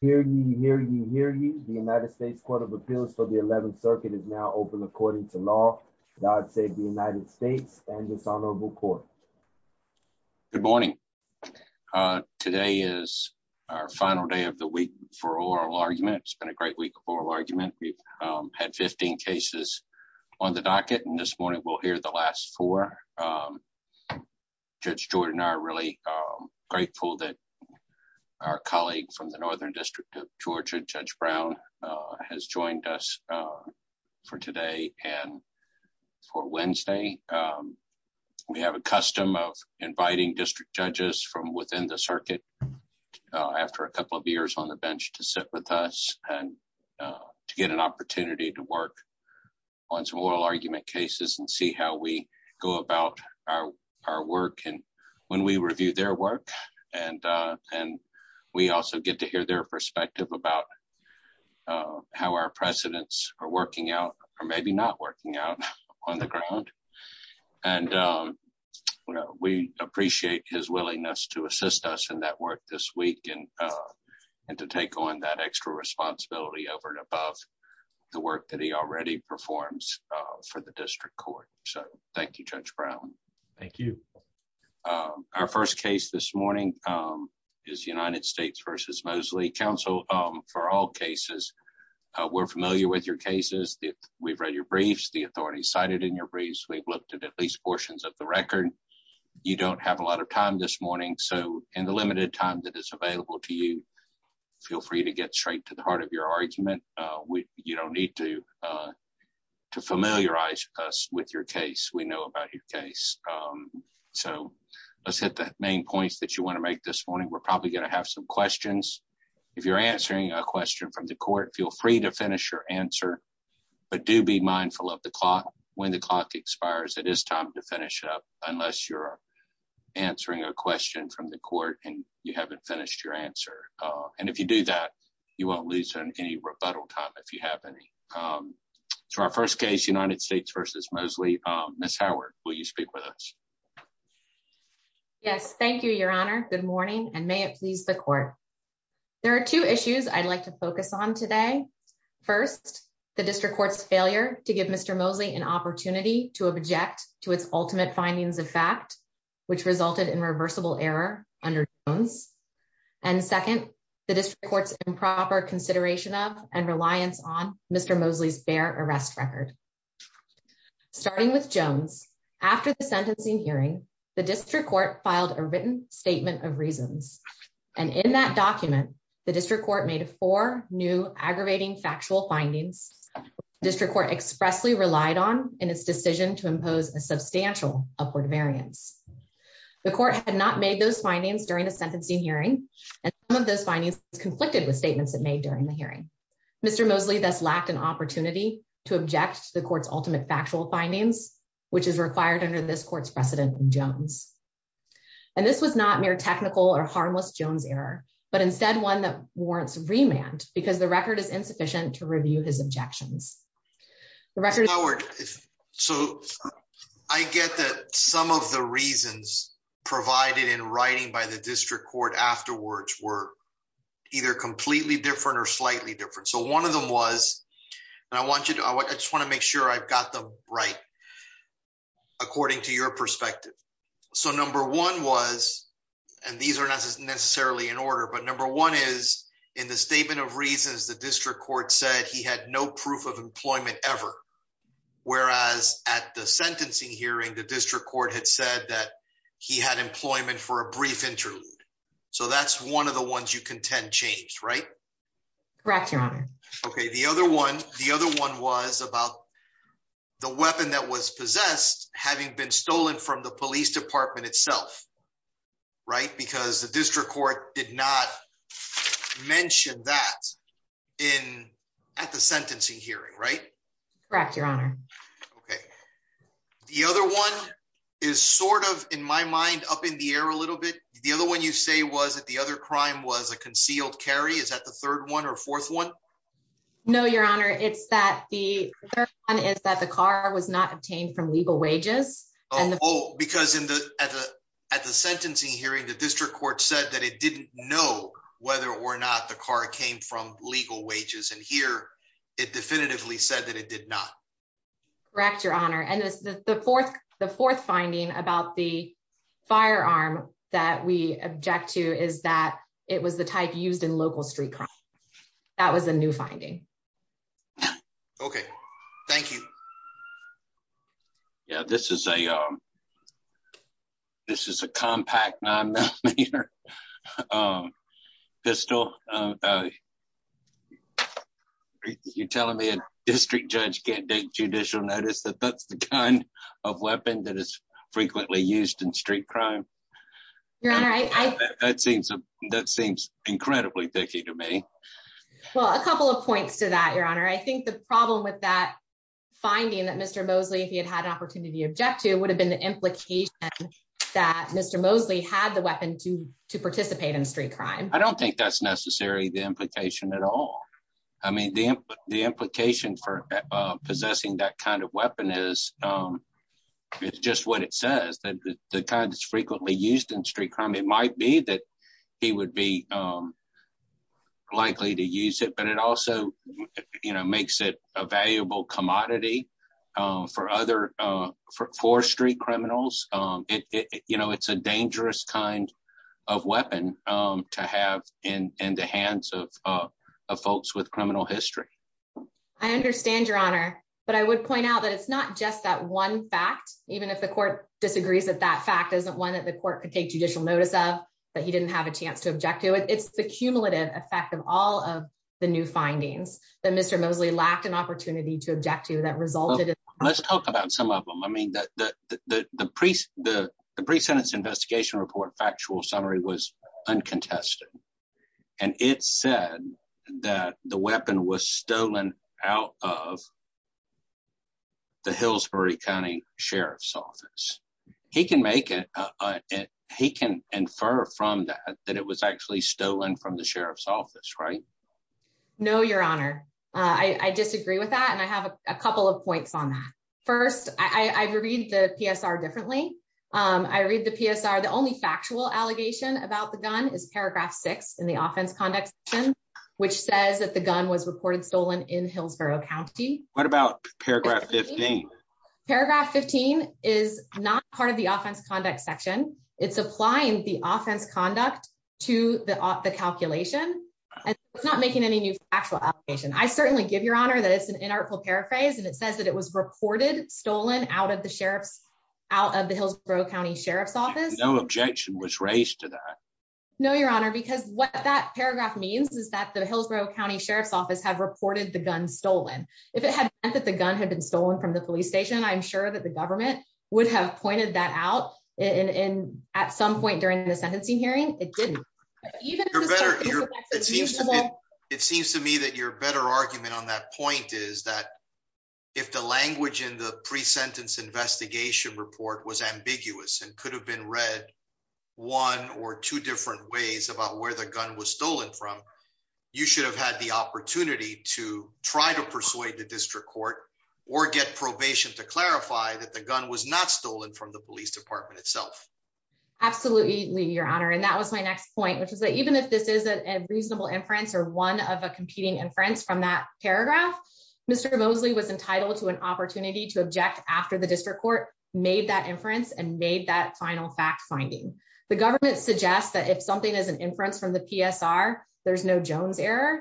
Hear you, hear you, hear you. The United States Court of Appeals for the 11th Circuit is now open according to law. God save the United States and this honorable court. Good morning. Today is our final day of the week for oral argument. It's been a great week of oral argument. We've had 15 cases on the docket and this morning we'll hear the last four. Judge Jordan and I are really grateful that our colleague from the Northern District of Georgia, Judge Brown, has joined us for today and for Wednesday. We have a custom of inviting district judges from within the circuit after a couple of years on the bench to sit with us and to get an our work and when we review their work and we also get to hear their perspective about how our precedents are working out or maybe not working out on the ground. We appreciate his willingness to assist us in that work this week and to take on that extra responsibility over and above the work that he already performs for the district court. So thank you, Judge Brown. Thank you. Our first case this morning is United States v. Mosely. Counsel, for all cases, we're familiar with your cases. We've read your briefs. The authorities cited in your briefs. We've looked at at least portions of the record. You don't have a lot of time this morning so in the limited time that is available to you, feel free to get straight to the heart of your argument. You don't need to to familiarize us with your case. We know about your case. So let's hit the main points that you want to make this morning. We're probably going to have some questions. If you're answering a question from the court, feel free to finish your answer but do be mindful of the clock. When the clock expires, it is time to finish up unless you're answering a question from the court and you haven't finished your answer and if you do that, you won't lose any rebuttal time if you have any. So our first case, United States v. Mosely. Ms. Howard, will you speak with us? Yes, thank you, Your Honor. Good morning and may it please the court. There are two issues I'd like to focus on today. First, the district court's failure to give Mr. Mosely an opportunity to object to its ultimate findings of fact which resulted in reversible error under Jones. And second, the district court's improper consideration of and reliance on Mr. Mosely's bare arrest record. Starting with Jones, after the sentencing hearing, the district court filed a written statement of reasons and in that document, the district court made four new aggravating factual findings the district court expressly relied on in its decision to impose a substantial upward variance. The court had not made those findings during the sentencing hearing and some of those findings conflicted with statements it made during the hearing. Mr. Mosely thus lacked an opportunity to object to the court's ultimate factual findings which is required under this court's precedent in Jones. And this was not mere technical or harmless Jones error but instead one that warrants remand because the record is insufficient to I get that some of the reasons provided in writing by the district court afterwards were either completely different or slightly different. So one of them was and I want you to I just want to make sure I've got them right according to your perspective. So number one was and these are not necessarily in order but number one is in the statement of reasons the district court said he had no proof of employment ever whereas at the sentencing hearing the district court had said that he had employment for a brief interlude. So that's one of the ones you contend changed right? Correct your honor. Okay the other one the other one was about the weapon that was possessed having been stolen from the police department itself right because the district court did not mention that in at the sentencing hearing right? Correct your honor. Okay the other one is sort of in my mind up in the air a little bit the other one you say was that the other crime was a concealed carry is that the third one or fourth one? No your honor it's that the third one is that the car was not obtained from legal wages. Oh because in the at the at the sentencing hearing the district court said that it didn't know whether or not the car came from legal wages and here it definitively said that it did not. Correct your honor and the fourth the fourth finding about the firearm that we object to is that it was the type used in local street crime that was a new finding. Okay thank you. Yeah this is a this is a compact nine millimeter pistol. You're telling me a district judge can't take judicial notice that that's the kind of weapon that is frequently used in street crime? Your honor. That seems that seems incredibly dicky to me. Well a couple of points to that your honor. I think the problem with that if he had had an opportunity to object to would have been the implication that Mr. Mosley had the weapon to to participate in street crime. I don't think that's necessarily the implication at all. I mean the the implication for possessing that kind of weapon is it's just what it says that the kind that's frequently used in street crime it might be that he would be likely to use it but it also you know makes it a valuable commodity for other forestry criminals. It you know it's a dangerous kind of weapon to have in in the hands of folks with criminal history. I understand your honor but I would point out that it's not just that one fact even if the court disagrees that that fact isn't one that the court could take judicial notice of that he didn't have a chance to object to. It's the cumulative effect of all of the new findings that Mr. Mosley lacked an opportunity to object to let's talk about some of them. I mean that the the the pre the the pre-sentence investigation report factual summary was uncontested and it said that the weapon was stolen out of the Hillsbury County Sheriff's Office. He can make it he can infer from that that it was actually stolen from the Sheriff's Office right? No your honor I I disagree with that and I have a couple of points on that. First I read the PSR differently. I read the PSR the only factual allegation about the gun is paragraph six in the offense conduct section which says that the gun was reported stolen in Hillsborough County. What about paragraph 15? Paragraph 15 is not part of the offense conduct section. It's applying the offense conduct to the the calculation and it's not making any new factual application. I certainly give your honor that it's an inartful paraphrase and it says that it was reported stolen out of the Sheriff's out of the Hillsborough County Sheriff's Office. No objection was raised to that. No your honor because what that paragraph means is that the Hillsborough County Sheriff's Office have reported the gun stolen. If it had meant that the gun had been stolen from the police station I'm sure that the government would have pointed that out in in at some point during the sentencing hearing it didn't. You're better it seems to me it seems to me that your better argument on that point is that if the language in the pre-sentence investigation report was ambiguous and could have been read one or two different ways about where the gun was stolen from you should have had the opportunity to try to persuade the district court or get probation to clarify that the gun was not stolen from the police department itself. Absolutely your honor and that was my next point which is that even if this is a reasonable inference or one of a competing inference from that paragraph Mr. Mosley was entitled to an opportunity to object after the district court made that inference and made that final fact finding. The government suggests that if something is an inference from the PSR there's no Jones error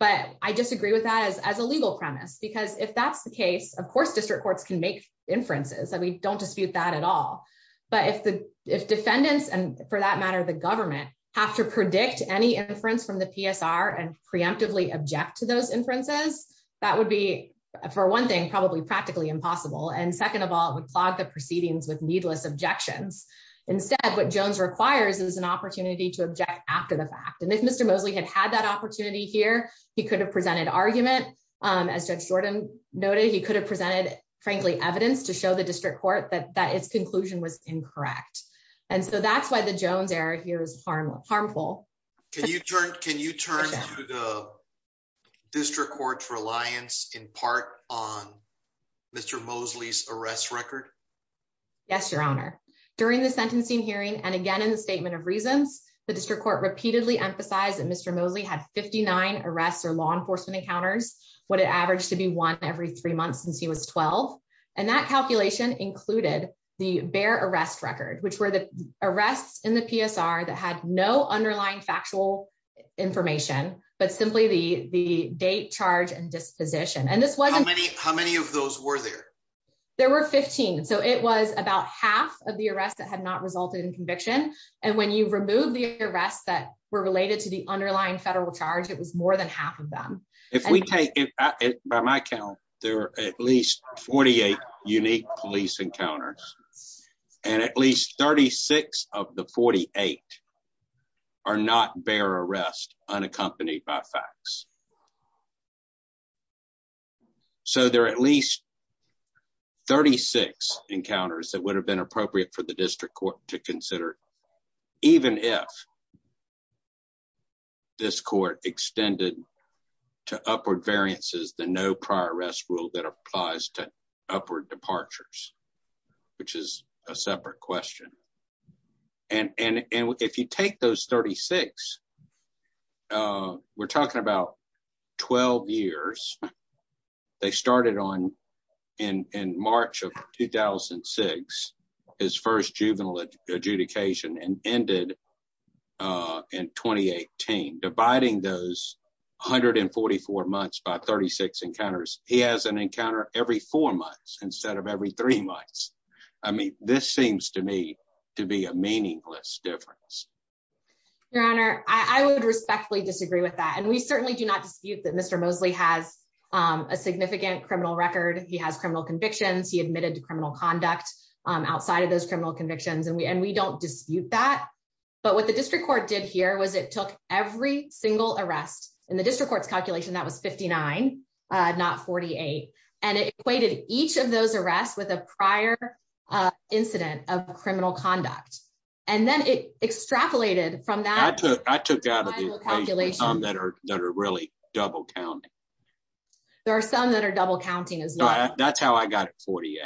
but I disagree with that as as a legal premise because if that's the case of course district courts can make inferences that we don't dispute that at all but if the if defendants and for that matter the government have to predict any inference from the PSR and preemptively object to those inferences that would be for one thing probably practically impossible and second of all it would clog the proceedings with needless objections instead what Jones requires is an opportunity to object after the fact and if Mr. Mosley had that opportunity here he could have presented argument as Judge Jordan noted he could have presented frankly evidence to show the district court that that its conclusion was incorrect and so that's why the Jones error here is harmful. Can you turn to the district court's reliance in part on Mr. Mosley's arrest record? Yes your honor during the sentencing hearing and again in the statement of reasons the district court repeatedly emphasized that Mr. Mosley had 59 arrests or law enforcement encounters what it averaged to be one every three months since he was 12 and that calculation included the bare arrest record which were the arrests in the PSR that had no underlying factual information but simply the the date charge and disposition and this wasn't. How many of those were there? There were 15 so it was about half of the arrests that had not resulted in conviction and when you remove the arrests that were related to the federal charge it was more than half of them. If we take it by my count there are at least 48 unique police encounters and at least 36 of the 48 are not bare arrest unaccompanied by facts so there are at least 36 encounters that would have been appropriate for the district court to consider even if this court extended to upward variances the no prior arrest rule that applies to upward departures which is a separate question and if you take those 36 we're talking about 12 years they started on in in March of 2006 his first juvenile adjudication and ended in 2018 dividing those 144 months by 36 encounters he has an encounter every four months instead of every three months. I mean this seems to me to be a meaningless difference. Your honor I would respectfully disagree with that and we certainly do not dispute that Mr. Mosley has a significant criminal record he has criminal convictions he admitted to criminal conduct outside of those criminal convictions and we and we don't dispute that but what the district court did here was it took every single arrest in the district court's calculation that was 59 not 48 and it equated each of those arrests with a prior incident of criminal conduct and then it extrapolated from that I took I took out of the calculation that are that are really double counting there are some that are double counting as well that's how I got 48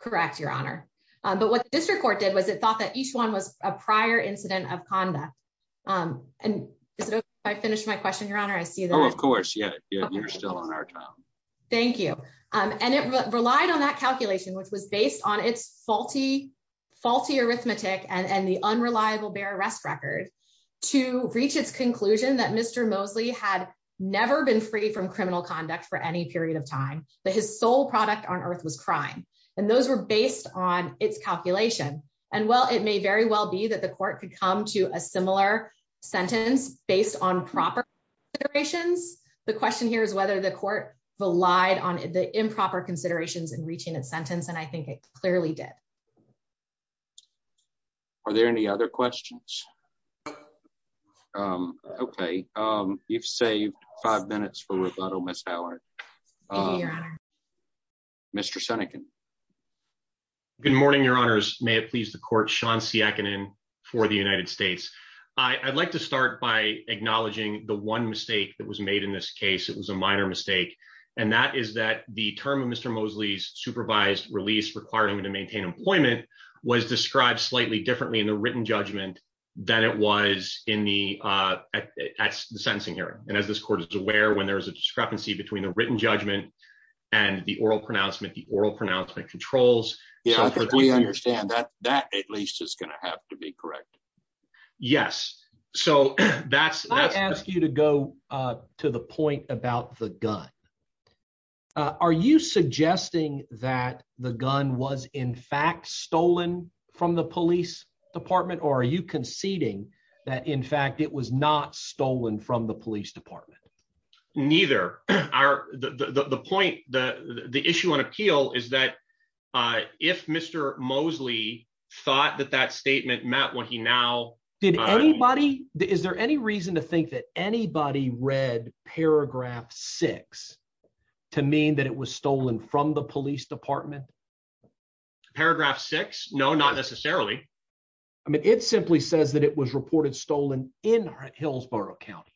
correct your honor but what the district court did was it thought that each one was a prior incident of conduct and is it if I finish my question your honor I see that of course yeah you're still on our time thank you and it relied on that calculation which was based on its faulty faulty arithmetic and the unreliable bear arrest record to reach its conclusion that Mr. Mosley had never been free from criminal conduct for any period of time but his sole product on earth was crime and those were based on its calculation and well it may very well be that the court could come to a similar sentence based on proper considerations the question here is whether the court relied on the improper considerations in reaching its sentence and I think it clearly did are there any other questions um okay um you've saved five minutes for rebuttal Miss Howard Mr. Seneca good morning your honors may it please the court Sean Siakinen for the United States I I'd like to start by acknowledging the one mistake that was made in this case it was a minor mistake and that is that the term of Mr. Mosley's supervised release required him to maintain employment was described slightly differently in the written judgment than it was in the uh at the sentencing hearing and as this court is aware when there is a discrepancy between the written judgment and the oral pronouncement the oral pronouncement controls yeah I think we understand that that at least is going to have to be correct yes so that's I ask you to go uh to the point about the gun uh are you suggesting that the gun was in fact stolen from the police department or are you conceding that in fact it was not stolen from the police department neither are the the point the the issue on appeal is that uh if Mr. Mosley thought that that statement met when he now did anybody is there any reason to think that anybody read paragraph six to mean that it was stolen from the police department paragraph six no not necessarily I mean it simply says that it was reported stolen in Hillsborough County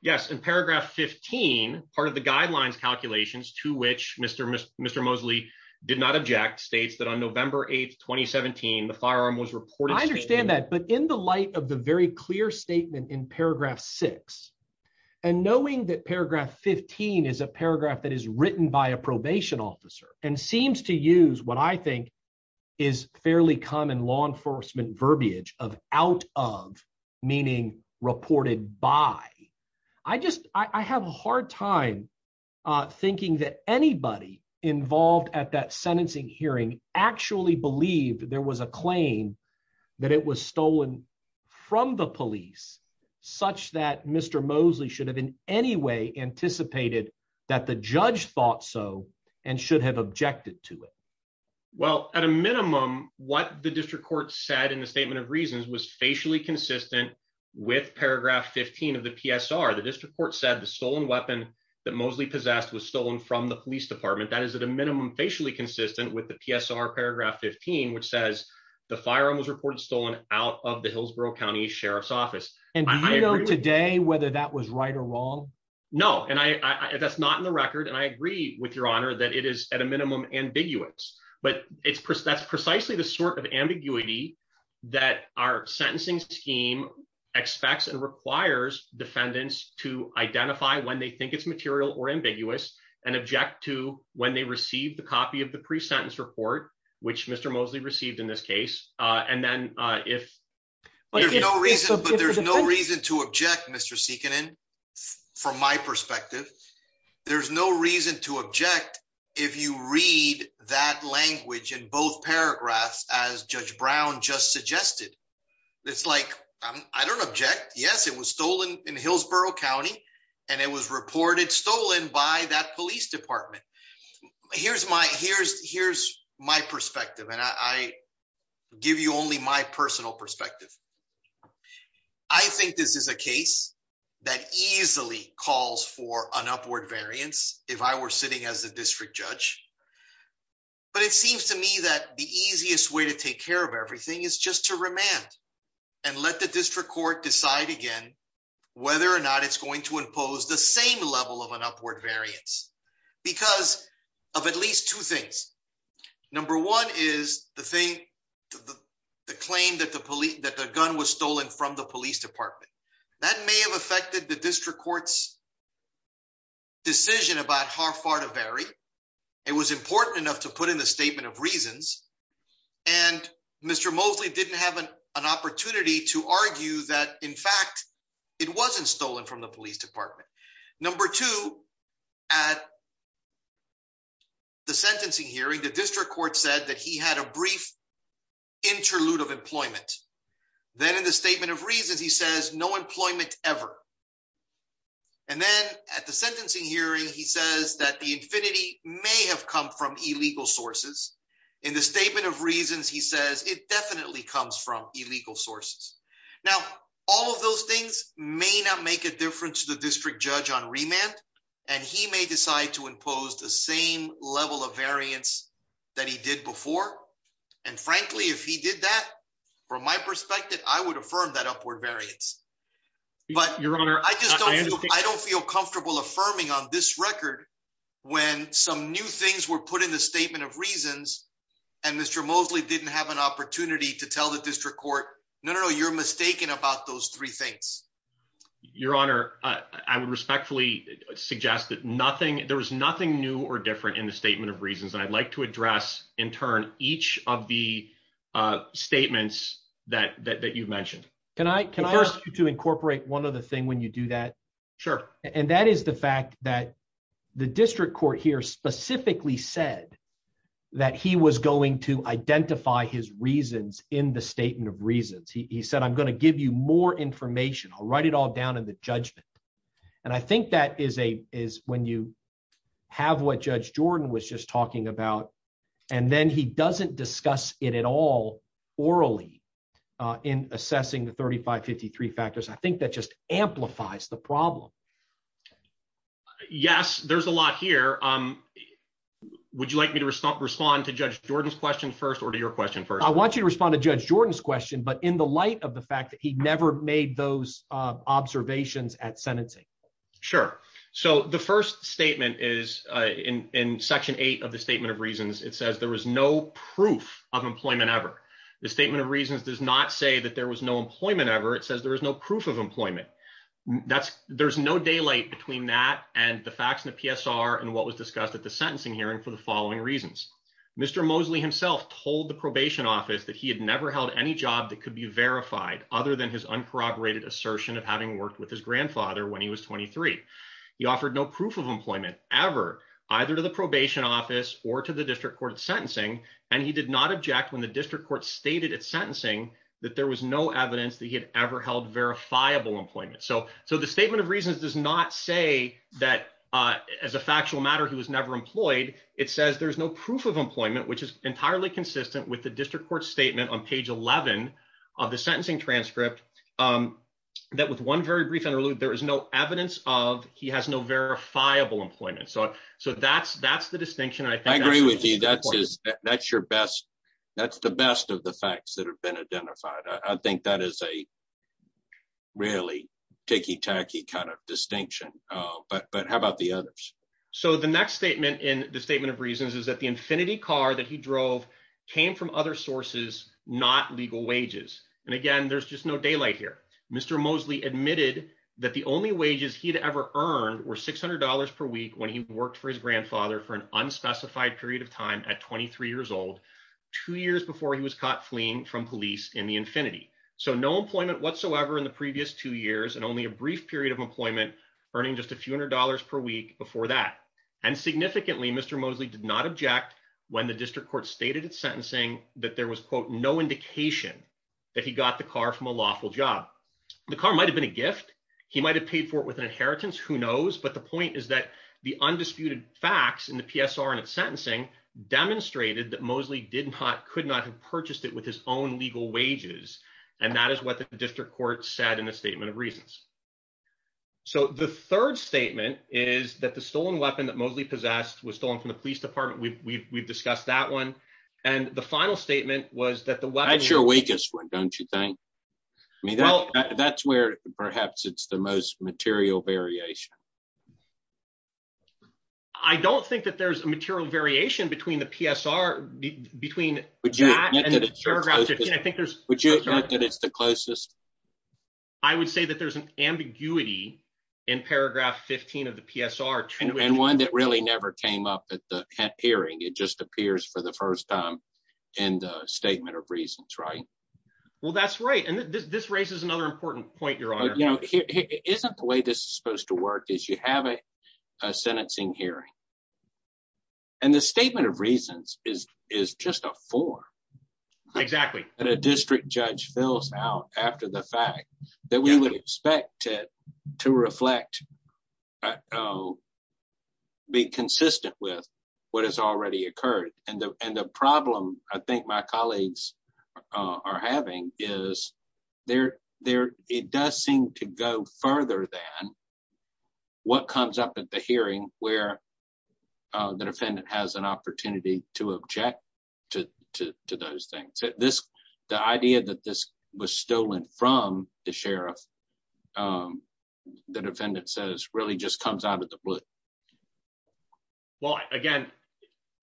yes in paragraph 15 part of the guidelines calculations to which Mr. Mr. Mosley did not object states that on November 8th 2017 the firearm was reported I in the light of the very clear statement in paragraph six and knowing that paragraph 15 is a paragraph that is written by a probation officer and seems to use what I think is fairly common law enforcement verbiage of out of meaning reported by I just I have a hard time uh thinking that anybody involved at that sentencing hearing actually believed there was a claim that it was stolen from the police such that Mr. Mosley should have in any way anticipated that the judge thought so and should have objected to it well at a minimum what the district court said in the statement of reasons was facially consistent with paragraph 15 of the PSR the district court said the stolen weapon that Mosley possessed was stolen from the police department that is at a minimum facially consistent with the PSR paragraph 15 which says the firearm was reported stolen out of the Hillsborough County Sheriff's Office and I know today whether that was right or wrong no and I that's not in the record and I agree with your honor that it is at a minimum ambiguous but it's that's precisely the sort of ambiguity that our sentencing scheme expects and requires defendants to identify when they think it's material or ambiguous and object to when they receive the copy of the pre-sentence report which Mr. Mosley received in this case uh and then uh if there's no reason but there's no reason to object Mr. Seekinen from my perspective there's no reason to object if you read that language in both paragraphs as Judge Brown just suggested it's like I don't object yes it was stolen in Hillsborough County and it was reported stolen by that police department here's my here's here's my perspective and I give you only my personal perspective I think this is a case that easily calls for an upward variance if I were sitting as the district judge but it seems to me that the easiest way to take care of everything is just to remand and let the district court decide again whether or not it's going to impose the same level of an upward variance because of at least two things number one is the thing the claim that the police that the gun was stolen from the police department that may have affected the district court's decision about how far to vary it was important enough to put in the statement of reasons and Mr. Mosley didn't have an opportunity to argue that in fact it wasn't stolen from the police department number two at the sentencing hearing the district court said that he had a brief interlude of employment then in the statement of reasons he says no employment ever and then at the sentencing hearing he says that the infinity may have come from illegal sources in the statement of reasons he says it definitely comes from illegal sources now all of those things may not make a difference to the district judge on remand and he may decide to impose the same level of variance that he did before and frankly if he did that from my perspective I would affirm that upward variance but your honor I just don't I don't feel comfortable affirming on this record when some new things were put in the statement of reasons and Mr. Mosley didn't have an opportunity to tell the district court no no you're mistaken about those three things your honor I would respectfully suggest that nothing there was nothing new or different in the statement of reasons and I'd like to address in turn each of the uh statements that that you mentioned can I can I ask you to incorporate one other thing when you do that sure and that is the fact that the district court here specifically said that he was going to identify his reasons in the statement of reasons he said I'm going to give you more information I'll write it all down in the judgment and I think that is a is when you have what Judge Jordan was just talking about and then he doesn't discuss it at all orally uh in assessing the 35 53 factors I think that just amplifies the yes there's a lot here um would you like me to respond to Judge Jordan's question first or to your question first I want you to respond to Judge Jordan's question but in the light of the fact that he never made those uh observations at sentencing sure so the first statement is uh in in section eight of the statement of reasons it says there was no proof of employment ever the statement of reasons does not say that there was no employment ever it says there is no proof of the facts in the PSR and what was discussed at the sentencing hearing for the following reasons Mr. Mosley himself told the probation office that he had never held any job that could be verified other than his uncorroborated assertion of having worked with his grandfather when he was 23. He offered no proof of employment ever either to the probation office or to the district court sentencing and he did not object when the district court stated at sentencing that there was no evidence that he had ever held verifiable employment so so the statement of reasons does not say that uh as a factual matter he was never employed it says there's no proof of employment which is entirely consistent with the district court statement on page 11 of the sentencing transcript um that with one very brief interlude there is no evidence of he has no verifiable employment so so that's that's the distinction I think I agree with you that's that's your best that's the best of the facts that have been identified I think that is a really ticky tacky kind of distinction uh but but how about the others so the next statement in the statement of reasons is that the infinity car that he drove came from other sources not legal wages and again there's just no daylight here Mr. Mosley admitted that the only wages he'd ever earned were six hundred dollars per week when he worked for his grandfather for an unspecified period of time at 23 years old two years before he was caught fleeing from police in the infinity so no employment whatsoever in the previous two years and only a brief period of employment earning just a few hundred dollars per week before that and significantly Mr. Mosley did not object when the district court stated its sentencing that there was quote no indication that he got the car from a lawful job the car might have been a gift he might have paid for it with an inheritance who knows but the point is that the undisputed facts in the PSR and its sentencing demonstrated that Mosley did not could not have purchased it with his own legal wages and that is what the district court said in the statement of reasons so the third statement is that the stolen weapon that Mosley possessed was stolen from the police department we've we've discussed that one and the final statement was that the weapons your weakest one don't you think I mean that's where perhaps it's the most material variation I don't think that there's a material variation between the PSR between would you would you admit that it's the closest I would say that there's an ambiguity in paragraph 15 of the PSR and one that really never came up at the hearing it just appears for the first time in the statement of reasons right well that's right and this raises another important point your honor you know here isn't the way this is supposed to work is you have a a sentencing hearing and the statement of reasons is is just a form exactly that a district judge fills out after the fact that we would expect it to reflect be consistent with what has already occurred and the and the problem I think my colleagues are having is there there it does seem to go further than what comes up at the hearing where the defendant has an opportunity to object to to those things this the idea that this was stolen from the sheriff the defendant says really just comes out of the blue well again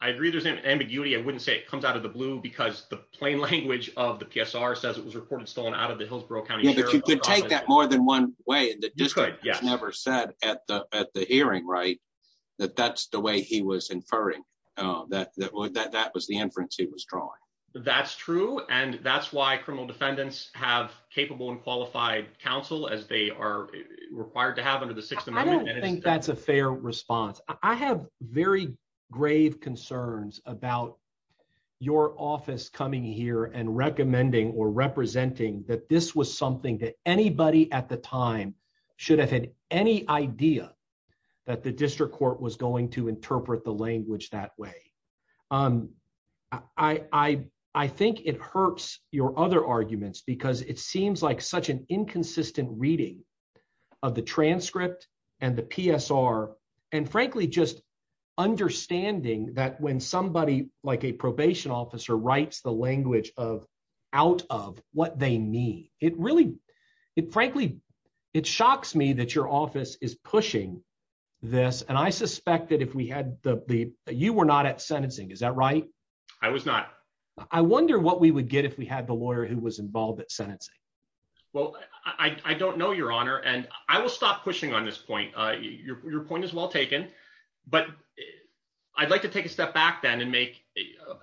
I agree there's an ambiguity I wouldn't say it comes out of the blue because the plain language of the PSR says it was reported stolen out of the Hillsborough County you could take that more than one way that you could yes never said at the at the hearing right that that's the way he was inferring uh that that would that that was the inference he was drawing that's true and that's why criminal defendants have capable and qualified counsel as they are required to have under the sixth amendment I don't think that's a fair response I have very grave concerns about your office coming here and recommending or representing that this was something that anybody at the time should have had any idea that the district court was going to interpret the language that way um I I think it hurts your other arguments because it seems like such an inconsistent reading of the transcript and the PSR and frankly just understanding that when somebody like a probation officer writes the language of out of what they need it really it frankly it shocks me that your office is pushing this and I suspect that if we had the the you were not at sentencing is that right I was not I wonder what we would get if we had the lawyer who was involved at sentencing well I I don't know your honor and I will stop pushing on this point uh your point is well taken but I'd like to take a step back then and make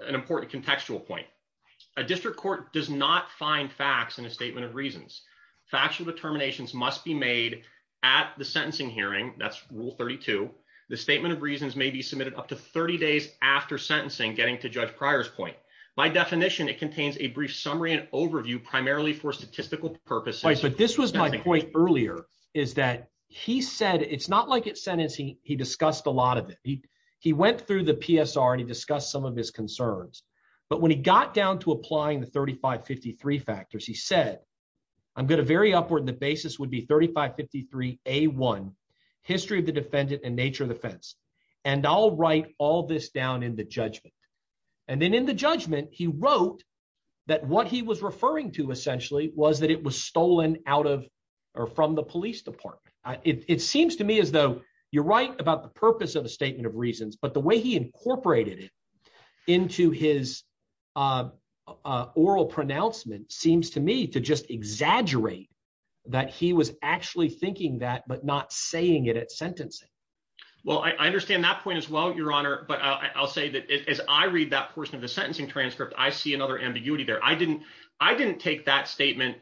an important contextual point a district court does not find facts in a statement of reasons factual determinations must be made at the sentencing hearing that's rule 32 the statement of reasons may be submitted up to 30 days after sentencing getting to Judge Pryor's point my definition it contains a brief summary and overview primarily for statistical purposes but this was my point earlier is that he said it's not like it's sentencing he discussed a lot of it he he went through the PSR and he discussed some of his concerns but when he got down to applying the 3553 factors he said I'm going to very upward the basis would be 3553 a1 history of the defendant and nature of defense and I'll write all this down in the judgment and then in judgment he wrote that what he was referring to essentially was that it was stolen out of or from the police department it seems to me as though you're right about the purpose of a statement of reasons but the way he incorporated it into his uh oral pronouncement seems to me to just exaggerate that he was actually thinking that but not saying it at sentencing well I understand that point as well your honor but I'll say that as I read that portion of the sentencing transcript I see another ambiguity there I didn't I didn't take that statement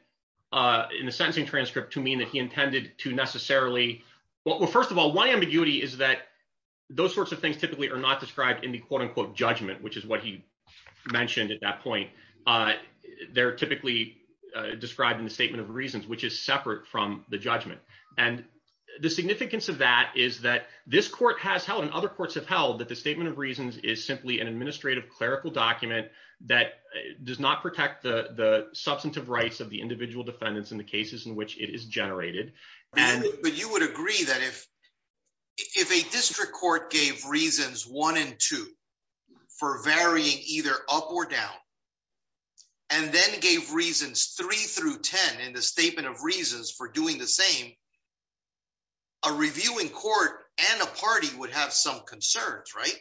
uh in the sentencing transcript to mean that he intended to necessarily well first of all one ambiguity is that those sorts of things typically are not described in the quote-unquote judgment which is what he mentioned at that point uh they're typically uh described in the statement of reasons which is separate from the judgment and the significance of that is that this court has held and other courts have held that the statement of reasons is simply an administrative clerical document that does not protect the the substantive rights of the individual defendants in the cases in which it is generated and but you would agree that if if a district court gave reasons one and two for varying either up or down and then gave reasons three through ten in the statement of reasons for doing the same a reviewing court and a party would have some concerns right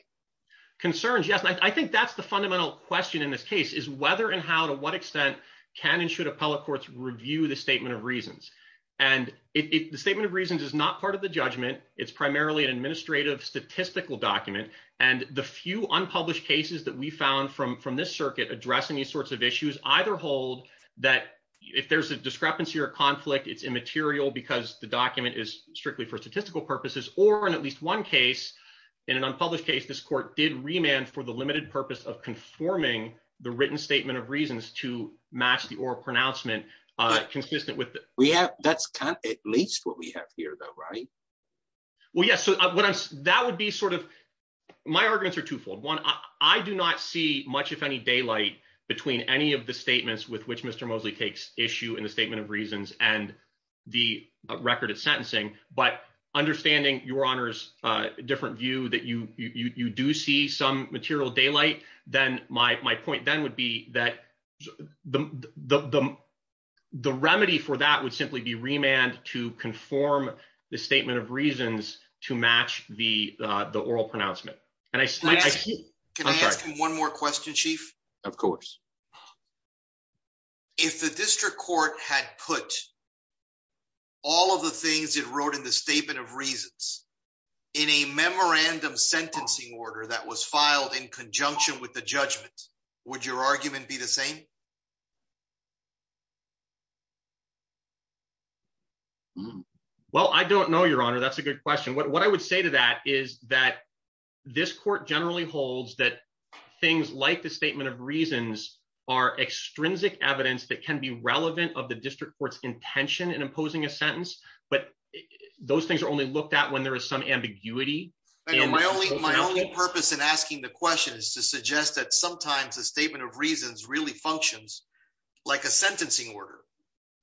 concerns yes I think that's the fundamental question in this case is whether and how to what extent can and should appellate courts review the statement of reasons and it the statement of reasons is not part of the judgment it's primarily an administrative statistical document and the few unpublished cases that we found from from this circuit addressing these sorts of issues either hold that if there's a discrepancy or conflict it's immaterial because the document is strictly for statistical purposes or in at least one case in an unpublished case this court did remand for the limited purpose of conforming the written statement of reasons to match the oral pronouncement uh consistent with we have that's kind of at least what we have here though right well yes so what i'm that would be my arguments are twofold one I do not see much if any daylight between any of the statements with which Mr. Mosley takes issue in the statement of reasons and the record of sentencing but understanding your honor's uh different view that you you you do see some material daylight then my my point then would be that the the the remedy for that would simply be remand to conform the statement of reasons to match the uh the oral pronouncement and i can i ask one more question chief of course if the district court had put all of the things it wrote in the statement of reasons in a memorandum sentencing order that was filed in conjunction with the judgment would your argument be the same well i don't know your honor that's a good question what i would say to that is that this court generally holds that things like the statement of reasons are extrinsic evidence that can be relevant of the district court's intention in imposing a sentence but those things are only looked at when there is some ambiguity my only my only purpose in asking the question is to suggest that sometimes the statement of reasons really functions like a sentencing order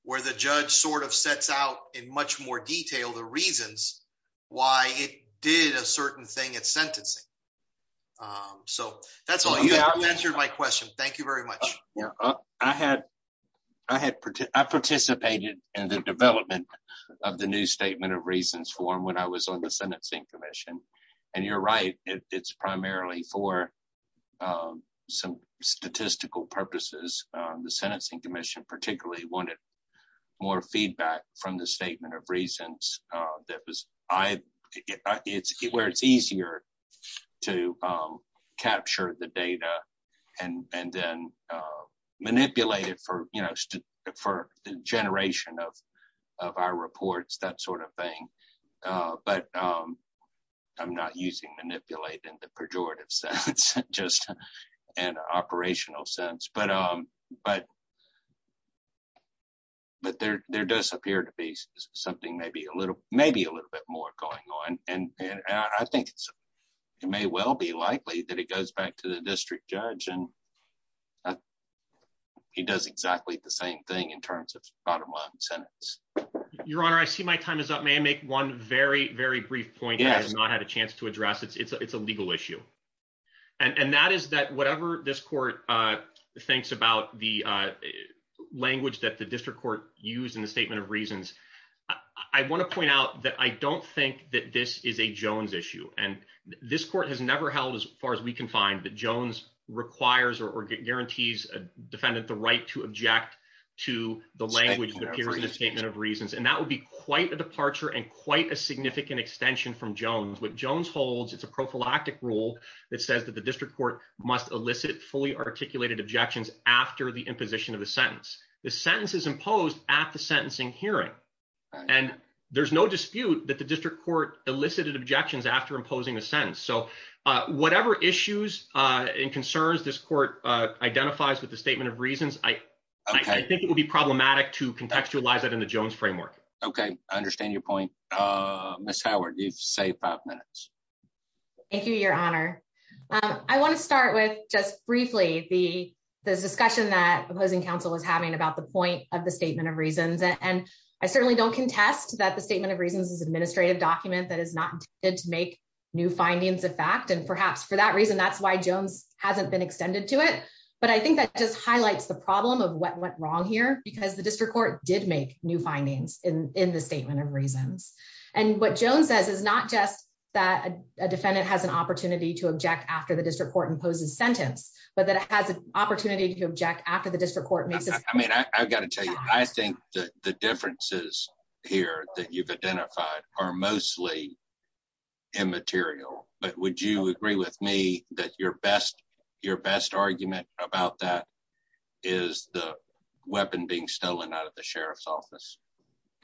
where the judge sort of sets out in much more detail the reasons why it did a certain thing at sentencing um so that's all you answered my question thank you very much yeah i had i had i participated in the development of the new statement of reasons form when i was on the sentencing commission and you're right it's primarily for um some statistical purposes um the sentencing commission particularly wanted more feedback from the statement of reasons uh that was i it's where it's easier to um capture the data and and then uh manipulate it for you know for the generation of of our reports that sort of thing uh but um i'm not using manipulate in the pejorative sense just an operational sense but um but but there there does appear to be something maybe a little maybe a little bit more going on and and i think it's it may well be likely that it goes back to the district judge and he does exactly the same thing in terms of bottom line sentence your honor i see my time is up may i make one very very brief point i have not had a chance to address it's it's a legal issue and and that is that whatever this court uh thinks about the uh language that the district court used in the statement of reasons i want to far as we can find that jones requires or guarantees a defendant the right to object to the language that appears in the statement of reasons and that would be quite a departure and quite a significant extension from jones what jones holds it's a prophylactic rule that says that the district court must elicit fully articulated objections after the imposition of the sentence the sentence is imposed at the sentencing hearing and there's no dispute that elicited objections after imposing a sentence so uh whatever issues uh and concerns this court uh identifies with the statement of reasons i i think it would be problematic to contextualize that in the jones framework okay i understand your point uh miss howard you've saved five minutes thank you your honor um i want to start with just briefly the this discussion that opposing council was having about the point of the statement of reasons and i certainly don't contest that the statement of reasons is administrative document that is not intended to make new findings of fact and perhaps for that reason that's why jones hasn't been extended to it but i think that just highlights the problem of what went wrong here because the district court did make new findings in in the statement of reasons and what jones says is not just that a defendant has an opportunity to object after the district court imposes sentence but that it has an opportunity to object after the district court makes it i mean i i've got to tell you i think that the differences here that you've identified are mostly immaterial but would you agree with me that your best your best argument about that is the weapon being stolen out of the sheriff's office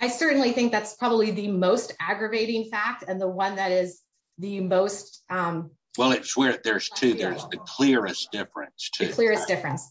i certainly think that's probably the most aggravating fact and the one that is the most um well it's where there's two there's the clearest difference to difference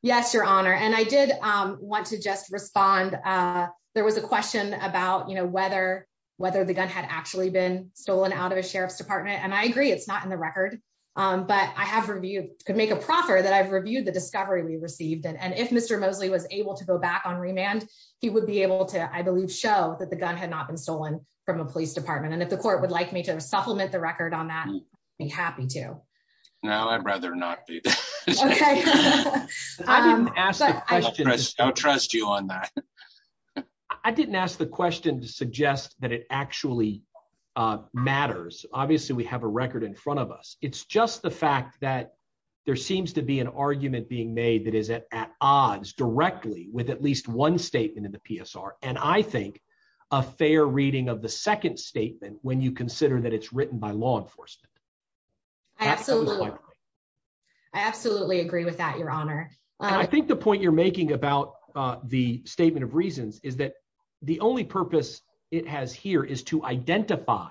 yes your honor and i did um want to just respond uh there was a question about you know whether whether the gun had actually been stolen out of a sheriff's department and i agree it's not in the record um but i have reviewed could make a proffer that i've reviewed the discovery we received and if mr mosley was able to go back on remand he would be able to i believe show that the gun had not been stolen from a police department and if the court would like to supplement the record on that i'd be happy to now i'd rather not be okay i didn't ask i'll trust you on that i didn't ask the question to suggest that it actually uh matters obviously we have a record in front of us it's just the fact that there seems to be an argument being made that is at odds directly with at least one statement in the psr and i think a fair reading of the second statement when you consider that it's written by law enforcement absolutely i absolutely agree with that your honor i think the point you're making about uh the statement of reasons is that the only purpose it has here is to identify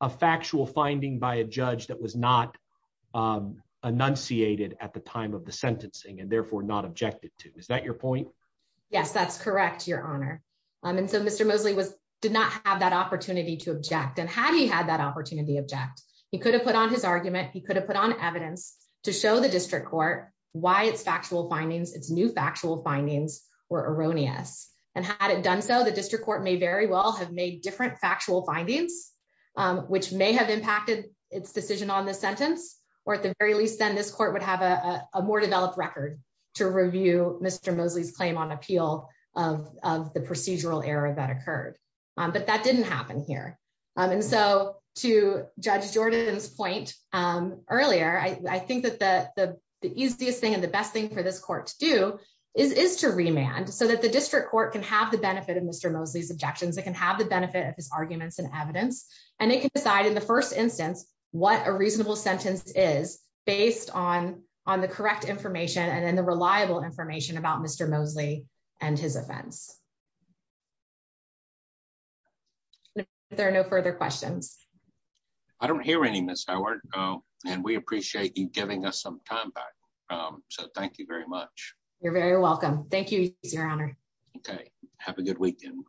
a factual finding by a judge that was not um enunciated at the time of the sentencing and therefore not objected to is that your point yes that's correct your honor um and so mr mosley was did not have that opportunity to object and had he had that opportunity object he could have put on his argument he could have put on evidence to show the district court why its factual findings its new factual findings were erroneous and had it done so the district court may very well have made different factual findings which may have impacted its decision on this sentence or at the very least then this court would have a more developed record to review mr mosley's claim on appeal of of the procedural error that occurred but that didn't happen here and so to judge jordan's point um earlier i i think that the the easiest thing and the best thing for this court to do is is to remand so that the district court can have the benefit of mr mosley's objections it can have the benefit of his arguments and evidence and it can decide in the first instance what a reasonable sentence is based on on the correct information and then the reliable information about mr mosley and his offense there are no further questions i don't hear any miss howard oh and we appreciate you giving us some time back um so thank you very much you're very welcome thank you your honor okay have a good weekend